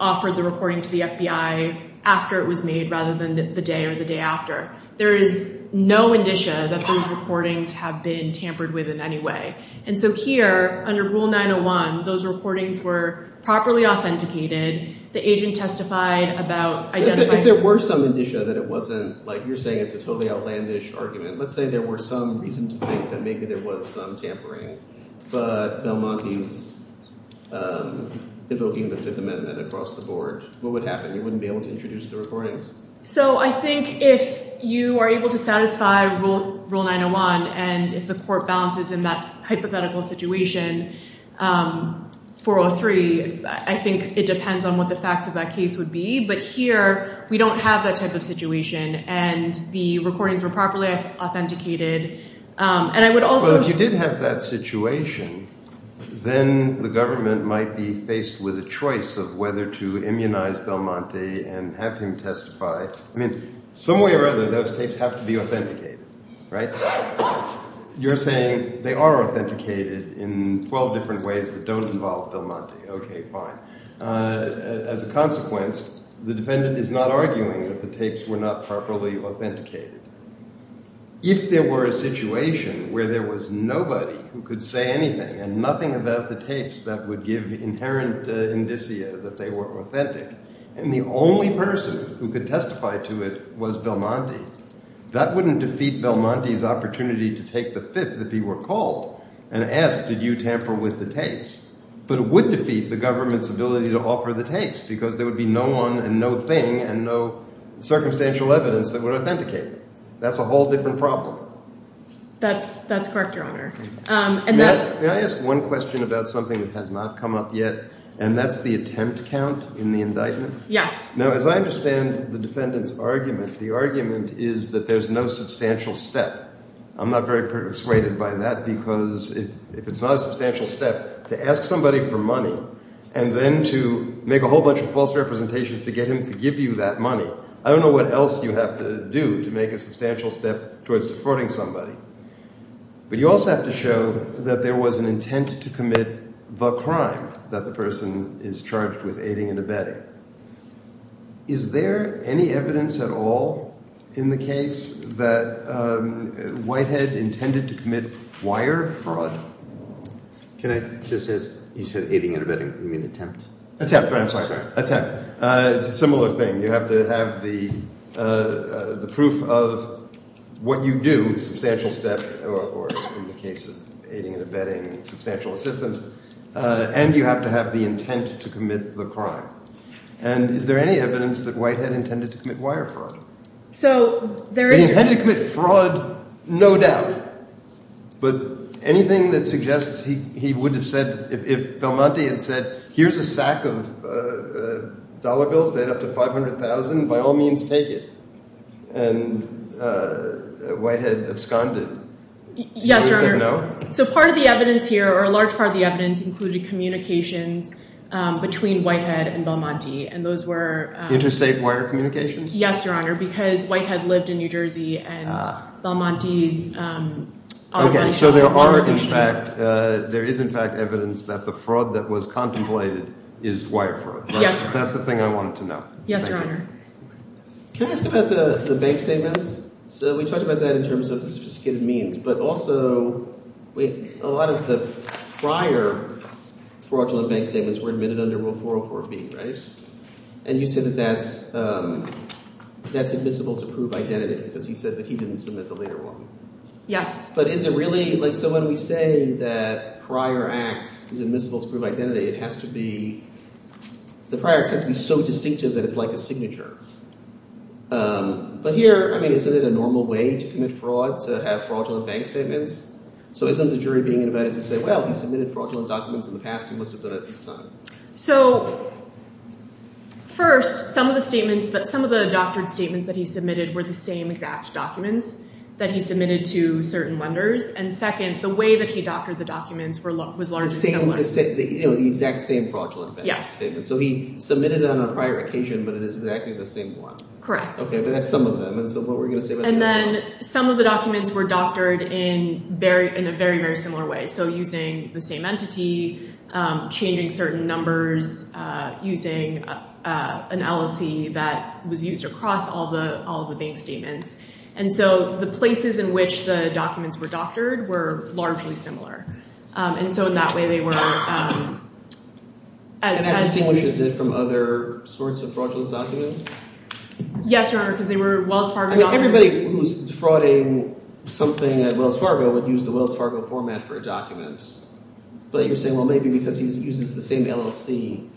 offered the recording to the FBI after it was made rather than the day or the day after. There is no indicia that those recordings have been tampered with in any way. And so here, under Rule 901, those recordings were properly authenticated. The agent testified about identifying – If there were some indicia that it wasn't – like you're saying it's a totally outlandish argument. Let's say there were some reason to think that maybe there was some tampering. But Belmonte's invoking the Fifth Amendment across the board, what would happen? You wouldn't be able to introduce the recordings. So I think if you are able to satisfy Rule 901 and if the court balances in that hypothetical situation, 403, I think it depends on what the facts of that case would be. But here, we don't have that type of situation, and the recordings were properly authenticated. Well, if you did have that situation, then the government might be faced with a choice of whether to immunize Belmonte and have him testify. I mean, some way or other, those tapes have to be authenticated, right? You're saying they are authenticated in 12 different ways that don't involve Belmonte. Okay, fine. As a consequence, the defendant is not arguing that the tapes were not properly authenticated. If there were a situation where there was nobody who could say anything and nothing about the tapes that would give inherent indicia that they were authentic, and the only person who could testify to it was Belmonte, that wouldn't defeat Belmonte's opportunity to take the Fifth that he were called and ask, did you tamper with the tapes? But it would defeat the government's ability to offer the tapes because there would be no one and no thing and no circumstantial evidence that would authenticate it. That's a whole different problem. That's correct, Your Honor. May I ask one question about something that has not come up yet, and that's the attempt count in the indictment? Yes. Now, as I understand the defendant's argument, the argument is that there's no substantial step. I'm not very persuaded by that because if it's not a substantial step to ask somebody for money and then to make a whole bunch of false representations to get him to give you that money, I don't know what else you have to do to make a substantial step towards defrauding somebody. But you also have to show that there was an intent to commit the crime that the person is charged with aiding and abetting. Is there any evidence at all in the case that Whitehead intended to commit wire fraud? Can I just – you said aiding and abetting. You mean attempt? Attempt, I'm sorry. Attempt. It's a similar thing. You have to have the proof of what you do, substantial step or in the case of aiding and abetting, substantial assistance, and you have to have the intent to commit the crime. And is there any evidence that Whitehead intended to commit wire fraud? So there is – No doubt. But anything that suggests he would have said – if Belmonte had said here's a sack of dollar bills that add up to $500,000, by all means take it, and Whitehead absconded. Yes, Your Honor. Would he have said no? So part of the evidence here or a large part of the evidence included communications between Whitehead and Belmonte, and those were – Interstate wire communications? Yes, Your Honor, because Whitehead lived in New Jersey and Belmonte's – Okay, so there are in fact – there is in fact evidence that the fraud that was contemplated is wire fraud. Yes, Your Honor. That's the thing I wanted to know. Yes, Your Honor. Can I ask about the bank statements? So we talked about that in terms of the sophisticated means, but also a lot of the prior fraudulent bank statements were admitted under Rule 404B, right? And you said that that's admissible to prove identity because he said that he didn't submit the later one. Yes. But is it really – like so when we say that prior acts is admissible to prove identity, it has to be – the prior act has to be so distinctive that it's like a signature. But here – I mean isn't it a normal way to commit fraud to have fraudulent bank statements? So isn't the jury being invited to say, well, he submitted fraudulent documents in the past. He must have done it this time. So first, some of the statements – some of the doctored statements that he submitted were the same exact documents that he submitted to certain lenders. And second, the way that he doctored the documents was largely similar. The same – the exact same fraudulent bank statement. So he submitted it on a prior occasion, but it is exactly the same one. Correct. Okay, but that's some of them. And so what were you going to say about that? And so the places in which the documents were doctored were largely similar. And so in that way, they were – And that distinguishes it from other sorts of fraudulent documents? Yes, Your Honor, because they were Wells Fargo documents. I mean everybody who's defrauding something at Wells Fargo would use the Wells Fargo format for a document. But you're saying, well, maybe because he uses the same element of fraudulence.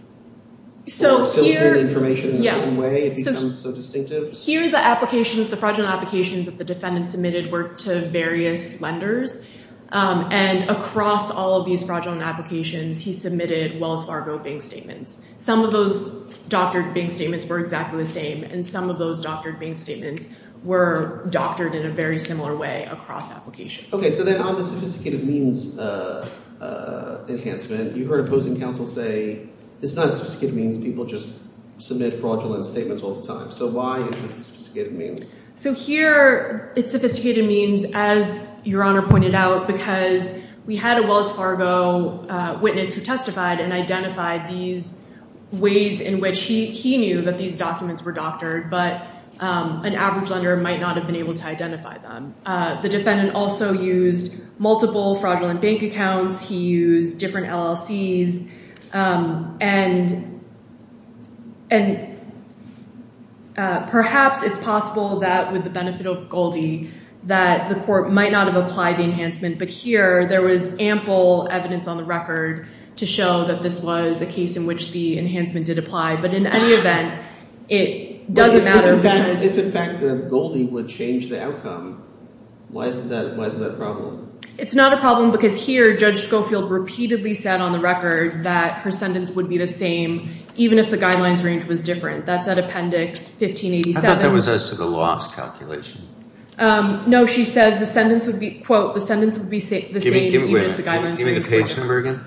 So here – So it fills in information in a certain way. It becomes so distinctive. Here the applications – the fraudulent applications that the defendant submitted were to various lenders. And across all of these fraudulent applications, he submitted Wells Fargo bank statements. Some of those doctored bank statements were exactly the same. And some of those doctored bank statements were doctored in a very similar way across applications. Okay, so then on the sophisticated means enhancement, you heard opposing counsel say it's not a sophisticated means. People just submit fraudulent statements all the time. So why is this a sophisticated means? So here it's sophisticated means, as Your Honor pointed out, because we had a Wells Fargo witness who testified and identified these ways in which he knew that these documents were doctored, but an average lender might not have been able to identify them. The defendant also used multiple fraudulent bank accounts. He used different LLCs. And perhaps it's possible that with the benefit of Goldie that the court might not have applied the enhancement. But here there was ample evidence on the record to show that this was a case in which the enhancement did apply. But in any event, it doesn't matter because – Why isn't that a problem? It's not a problem because here Judge Schofield repeatedly said on the record that her sentence would be the same even if the guidelines range was different. That's at Appendix 1587. I thought that was as to the loss calculation. No, she says the sentence would be, quote, the sentence would be the same even if the guidelines range were different. Give me the page number again.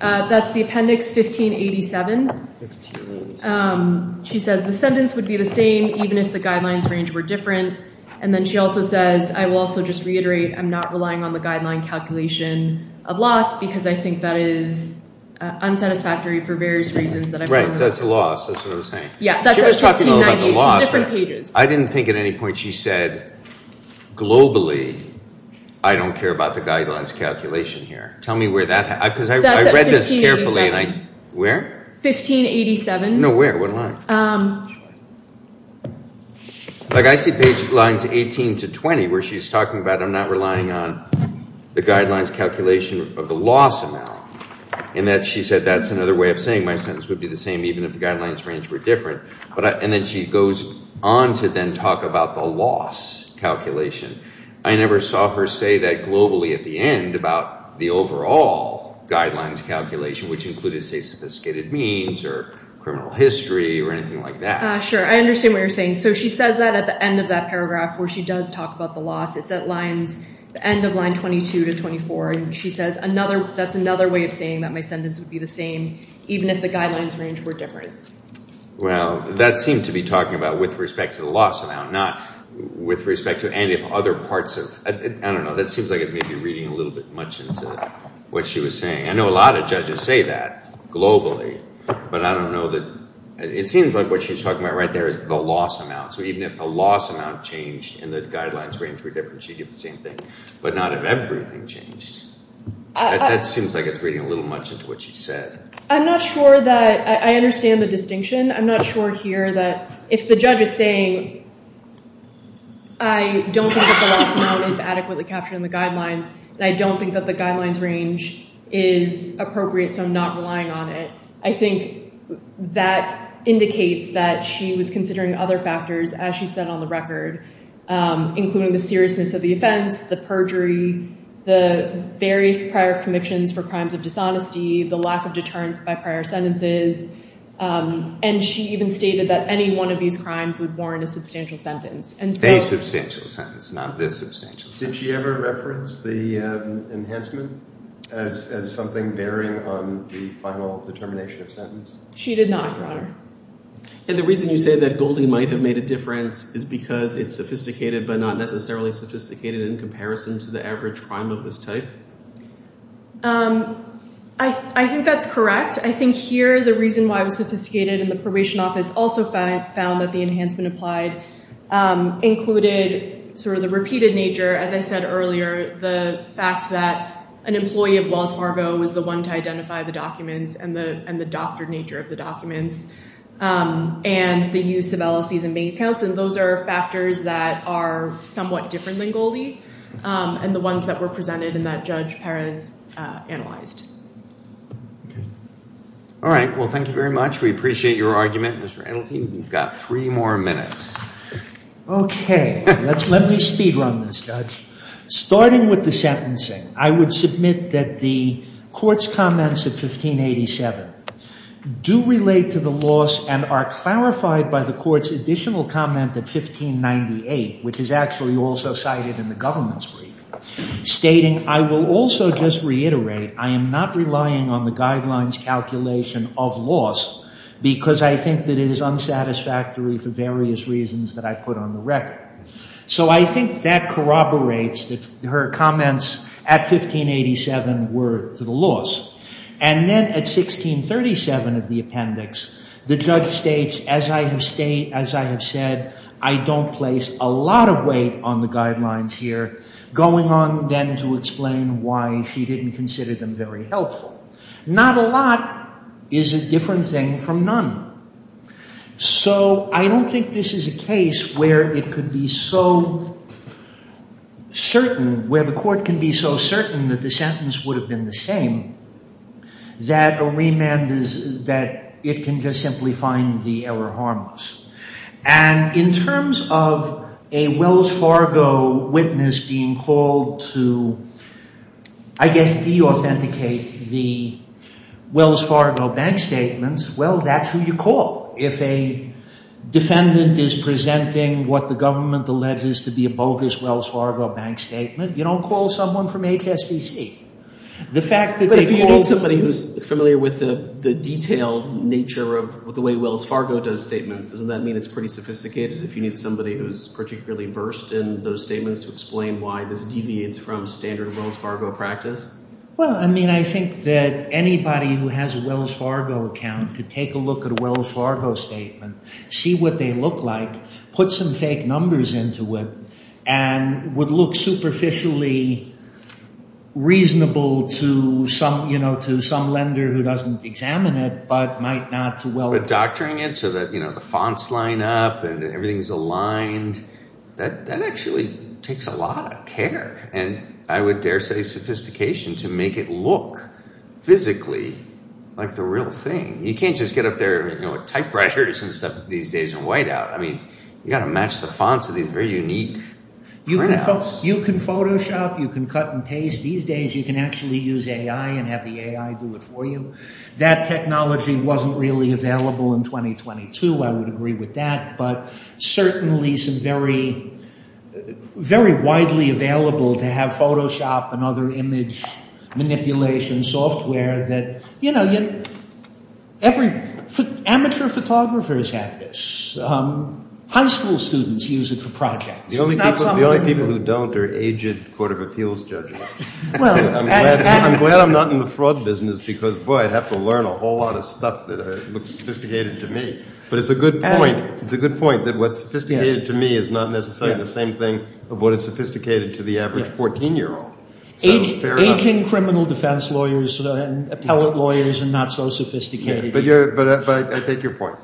That's the Appendix 1587. 1587. She says the sentence would be the same even if the guidelines range were different. And then she also says, I will also just reiterate, I'm not relying on the guideline calculation of loss because I think that is unsatisfactory for various reasons that I'm aware of. That's the loss. That's what I'm saying. Yeah, that's at 1598. She was talking a little about the loss, but I didn't think at any point she said globally I don't care about the guidelines calculation here. Tell me where that – because I read this carefully and I – Where? 1587. No, where? What line? Like I see page lines 18 to 20 where she's talking about I'm not relying on the guidelines calculation of the loss amount and that she said that's another way of saying my sentence would be the same even if the guidelines range were different. And then she goes on to then talk about the loss calculation. I never saw her say that globally at the end about the overall guidelines calculation, which included, say, sophisticated means or criminal history or anything like that. Sure. I understand what you're saying. So she says that at the end of that paragraph where she does talk about the loss. It's at lines – the end of line 22 to 24. And she says another – that's another way of saying that my sentence would be the same even if the guidelines range were different. Well, that seemed to be talking about with respect to the loss amount, not with respect to any other parts of – I don't know. That seems like it may be reading a little bit much into what she was saying. I know a lot of judges say that globally, but I don't know that – it seems like what she's talking about right there is the loss amount. So even if the loss amount changed and the guidelines range were different, she'd get the same thing. But not if everything changed. That seems like it's reading a little much into what she said. I'm not sure that – I understand the distinction. I'm not sure here that if the judge is saying I don't think that the loss amount is adequately captured in the guidelines and I don't think that the guidelines range is appropriate, so I'm not relying on it. I think that indicates that she was considering other factors, as she said on the record, including the seriousness of the offense, the perjury, the various prior convictions for crimes of dishonesty, the lack of deterrence by prior sentences. And she even stated that any one of these crimes would warrant a substantial sentence. A substantial sentence, not this substantial sentence. Did she ever reference the enhancement as something bearing on the final determination of sentence? She did not, Your Honor. And the reason you say that Goldie might have made a difference is because it's sophisticated but not necessarily sophisticated in comparison to the average crime of this type? I think that's correct. I think here the reason why it was sophisticated in the probation office also found that the enhancement applied included sort of the repeated nature, as I said earlier, the fact that an employee of Wells Fargo was the one to identify the documents and the doctored nature of the documents and the use of LLCs and bank accounts, and those are factors that are somewhat different than Goldie and the ones that were presented and that Judge Perez analyzed. All right. Well, thank you very much. We appreciate your argument, Mr. Adelstein. We've got three more minutes. Okay. Let me speedrun this, Judge. Starting with the sentencing, I would submit that the court's comments at 1587 do relate to the loss and are clarified by the court's additional comment at 1598, which is actually also cited in the government's brief, stating, I will also just reiterate I am not relying on the guidelines calculation of loss because I think that it is unsatisfactory for various reasons that I put on the record. So I think that corroborates that her comments at 1587 were to the loss. And then at 1637 of the appendix, the judge states, as I have said, I don't place a lot of weight on the guidelines here, going on then to explain why she didn't consider them very helpful. Not a lot is a different thing from none. So I don't think this is a case where it could be so certain, where the court can be so certain that the sentence would have been the same, that a remand is that it can just simply find the error harmless. And in terms of a Wells Fargo witness being called to, I guess, deauthenticate the Wells Fargo bank statements, well, that's who you call. If a defendant is presenting what the government alleges to be a bogus Wells Fargo bank statement, you don't call someone from HSBC. But if you need somebody who's familiar with the detailed nature of the way Wells Fargo does statements, doesn't that mean it's pretty sophisticated if you need somebody who's particularly versed in those statements to explain why this deviates from standard Wells Fargo practice? Well, I mean I think that anybody who has a Wells Fargo account could take a look at a Wells Fargo statement, see what they look like, put some fake numbers into it, and would look superficially reasonable to some lender who doesn't examine it, but might not to Wells Fargo. But doctoring it so that the fonts line up and everything's aligned, that actually takes a lot of care. And I would dare say sophistication to make it look physically like the real thing. You can't just get up there with typewriters and stuff these days and white out. I mean, you got to match the fonts to these very unique printouts. You can Photoshop, you can cut and paste. These days you can actually use AI and have the AI do it for you. That technology wasn't really available in 2022, I would agree with that. But certainly some very, very widely available to have Photoshop and other image manipulation software that, amateur photographers have this. High school students use it for projects. The only people who don't are aged court of appeals judges. I'm glad I'm not in the fraud business because, boy, I'd have to learn a whole lot of stuff that looks sophisticated to me. But it's a good point. It's a good point that what's sophisticated to me is not necessarily the same thing of what is sophisticated to the average 14-year-old. Aching criminal defense lawyers and appellate lawyers are not so sophisticated. But I take your point.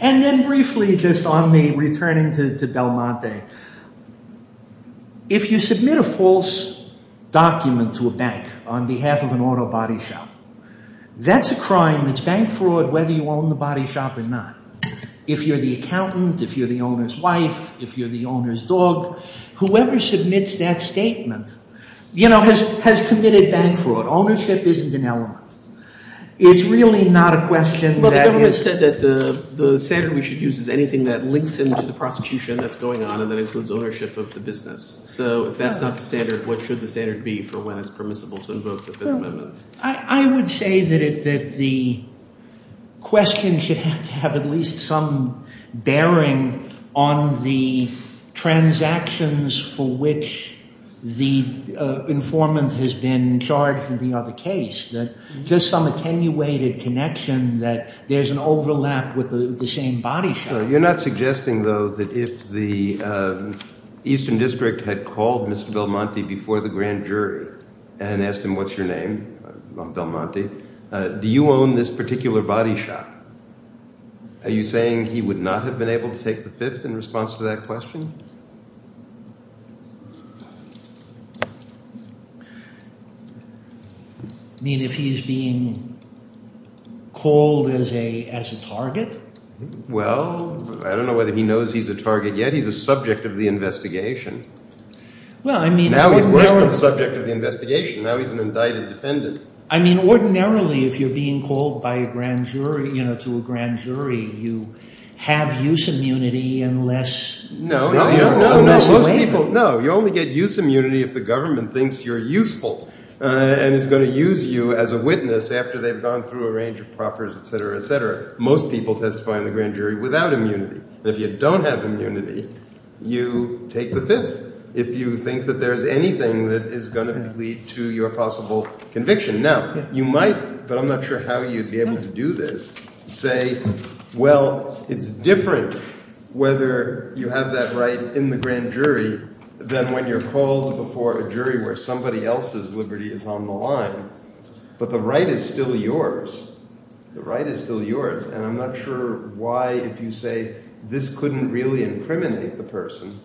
And then briefly just on the returning to Belmonte. If you submit a false document to a bank on behalf of an auto body shop, that's a crime. It's bank fraud whether you own the body shop or not. If you're the accountant, if you're the owner's wife, if you're the owner's dog, whoever submits that statement has committed bank fraud. Ownership isn't an element. It's really not a question that is. Well, the government said that the standard we should use is anything that links into the prosecution that's going on and that includes ownership of the business. So if that's not the standard, what should the standard be for when it's permissible to invoke the Fifth Amendment? I would say that the question should have to have at least some bearing on the transactions for which the informant has been charged in the other case. Just some attenuated connection that there's an overlap with the same body shop. You're not suggesting though that if the Eastern District had called Mr. Belmonte before the grand jury and asked him what's your name, Belmonte, do you own this particular body shop? Are you saying he would not have been able to take the Fifth in response to that question? You mean if he's being called as a target? Well, I don't know whether he knows he's a target yet. He's a subject of the investigation. Now he's worse than a subject of the investigation. Now he's an indicted defendant. I mean ordinarily if you're being called by a grand jury, you know, to a grand jury, you have use immunity unless – No, no, no. Most people – no. You only get use immunity if the government thinks you're useful and is going to use you as a witness after they've gone through a range of proffers, et cetera, et cetera. Most people testify in the grand jury without immunity. If you don't have immunity, you take the Fifth if you think that there is anything that is going to lead to your possible conviction. Now, you might, but I'm not sure how you'd be able to do this, say, well, it's different whether you have that right in the grand jury than when you're called before a jury where somebody else's liberty is on the line. But the right is still yours. The right is still yours, and I'm not sure why if you say this couldn't really incriminate the person,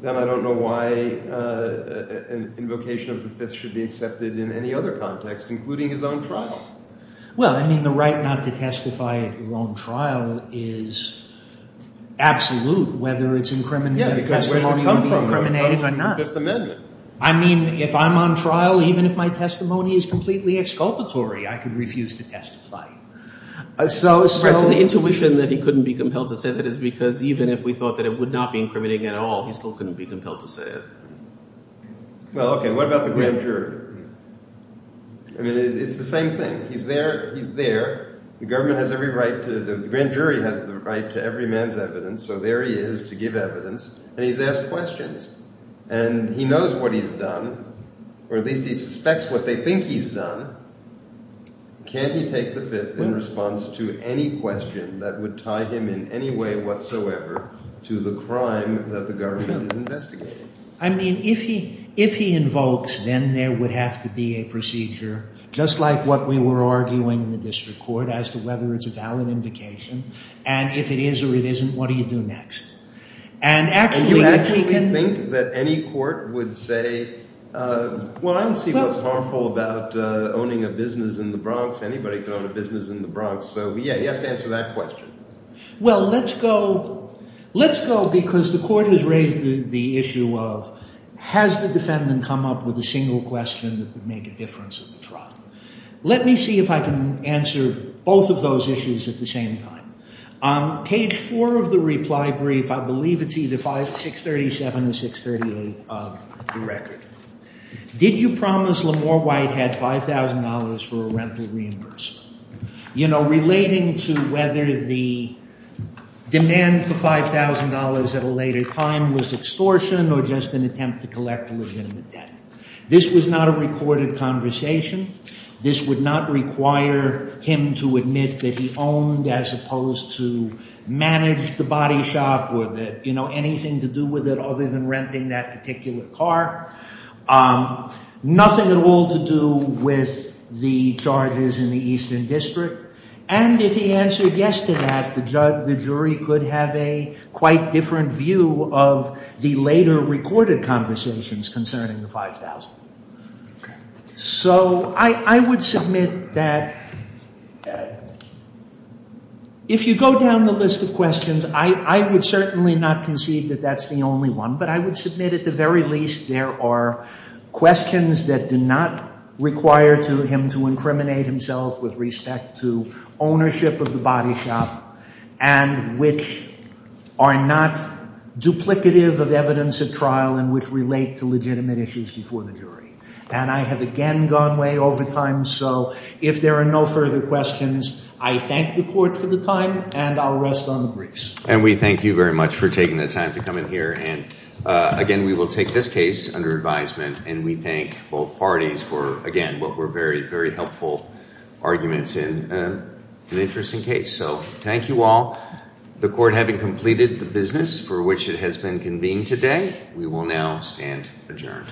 then I don't know why an invocation of the Fifth should be accepted in any other context including his own trial. Well, I mean the right not to testify at your own trial is absolute whether it's – Yeah, because where did it come from? I mean if I'm on trial, even if my testimony is completely exculpatory, I could refuse to testify. So the intuition that he couldn't be compelled to say that is because even if we thought that it would not be incriminating at all, he still couldn't be compelled to say it. Well, okay, what about the grand jury? I mean it's the same thing. He's there. The government has every right to – the grand jury has the right to every man's evidence, so there he is to give evidence, and he's asked questions. And he knows what he's done, or at least he suspects what they think he's done. Can't he take the Fifth in response to any question that would tie him in any way whatsoever to the crime that the government is investigating? I mean if he invokes, then there would have to be a procedure just like what we were arguing in the district court as to whether it's a valid invocation, and if it is or it isn't, what do you do next? And you actually think that any court would say, well, I don't see what's harmful about owning a business in the Bronx. Anybody can own a business in the Bronx. So yeah, he has to answer that question. Well, let's go – let's go because the court has raised the issue of has the defendant come up with a single question that could make a difference at the trial. Let me see if I can answer both of those issues at the same time. Page 4 of the reply brief, I believe it's either 637 or 638 of the record. Did you promise Lamore Whitehead $5,000 for a rental reimbursement? You know, relating to whether the demand for $5,000 at a later time was extortion or just an attempt to collect legitimate debt. This was not a recorded conversation. This would not require him to admit that he owned as opposed to manage the body shop with it, you know, anything to do with it other than renting that particular car. Nothing at all to do with the charges in the Eastern District. And if he answered yes to that, the jury could have a quite different view of the later recorded conversations concerning the $5,000. So I would submit that if you go down the list of questions, I would certainly not concede that that's the only one. But I would submit at the very least there are questions that do not require him to incriminate himself with respect to ownership of the body shop and which are not duplicative of evidence at trial and which relate to legitimate issues before the jury. And I have again gone way over time, so if there are no further questions, I thank the court for the time and I'll rest on the briefs. And we thank you very much for taking the time to come in here. And, again, we will take this case under advisement and we thank both parties for, again, what were very, very helpful arguments in an interesting case. So thank you all. The court having completed the business for which it has been convened today, we will now stand adjourned.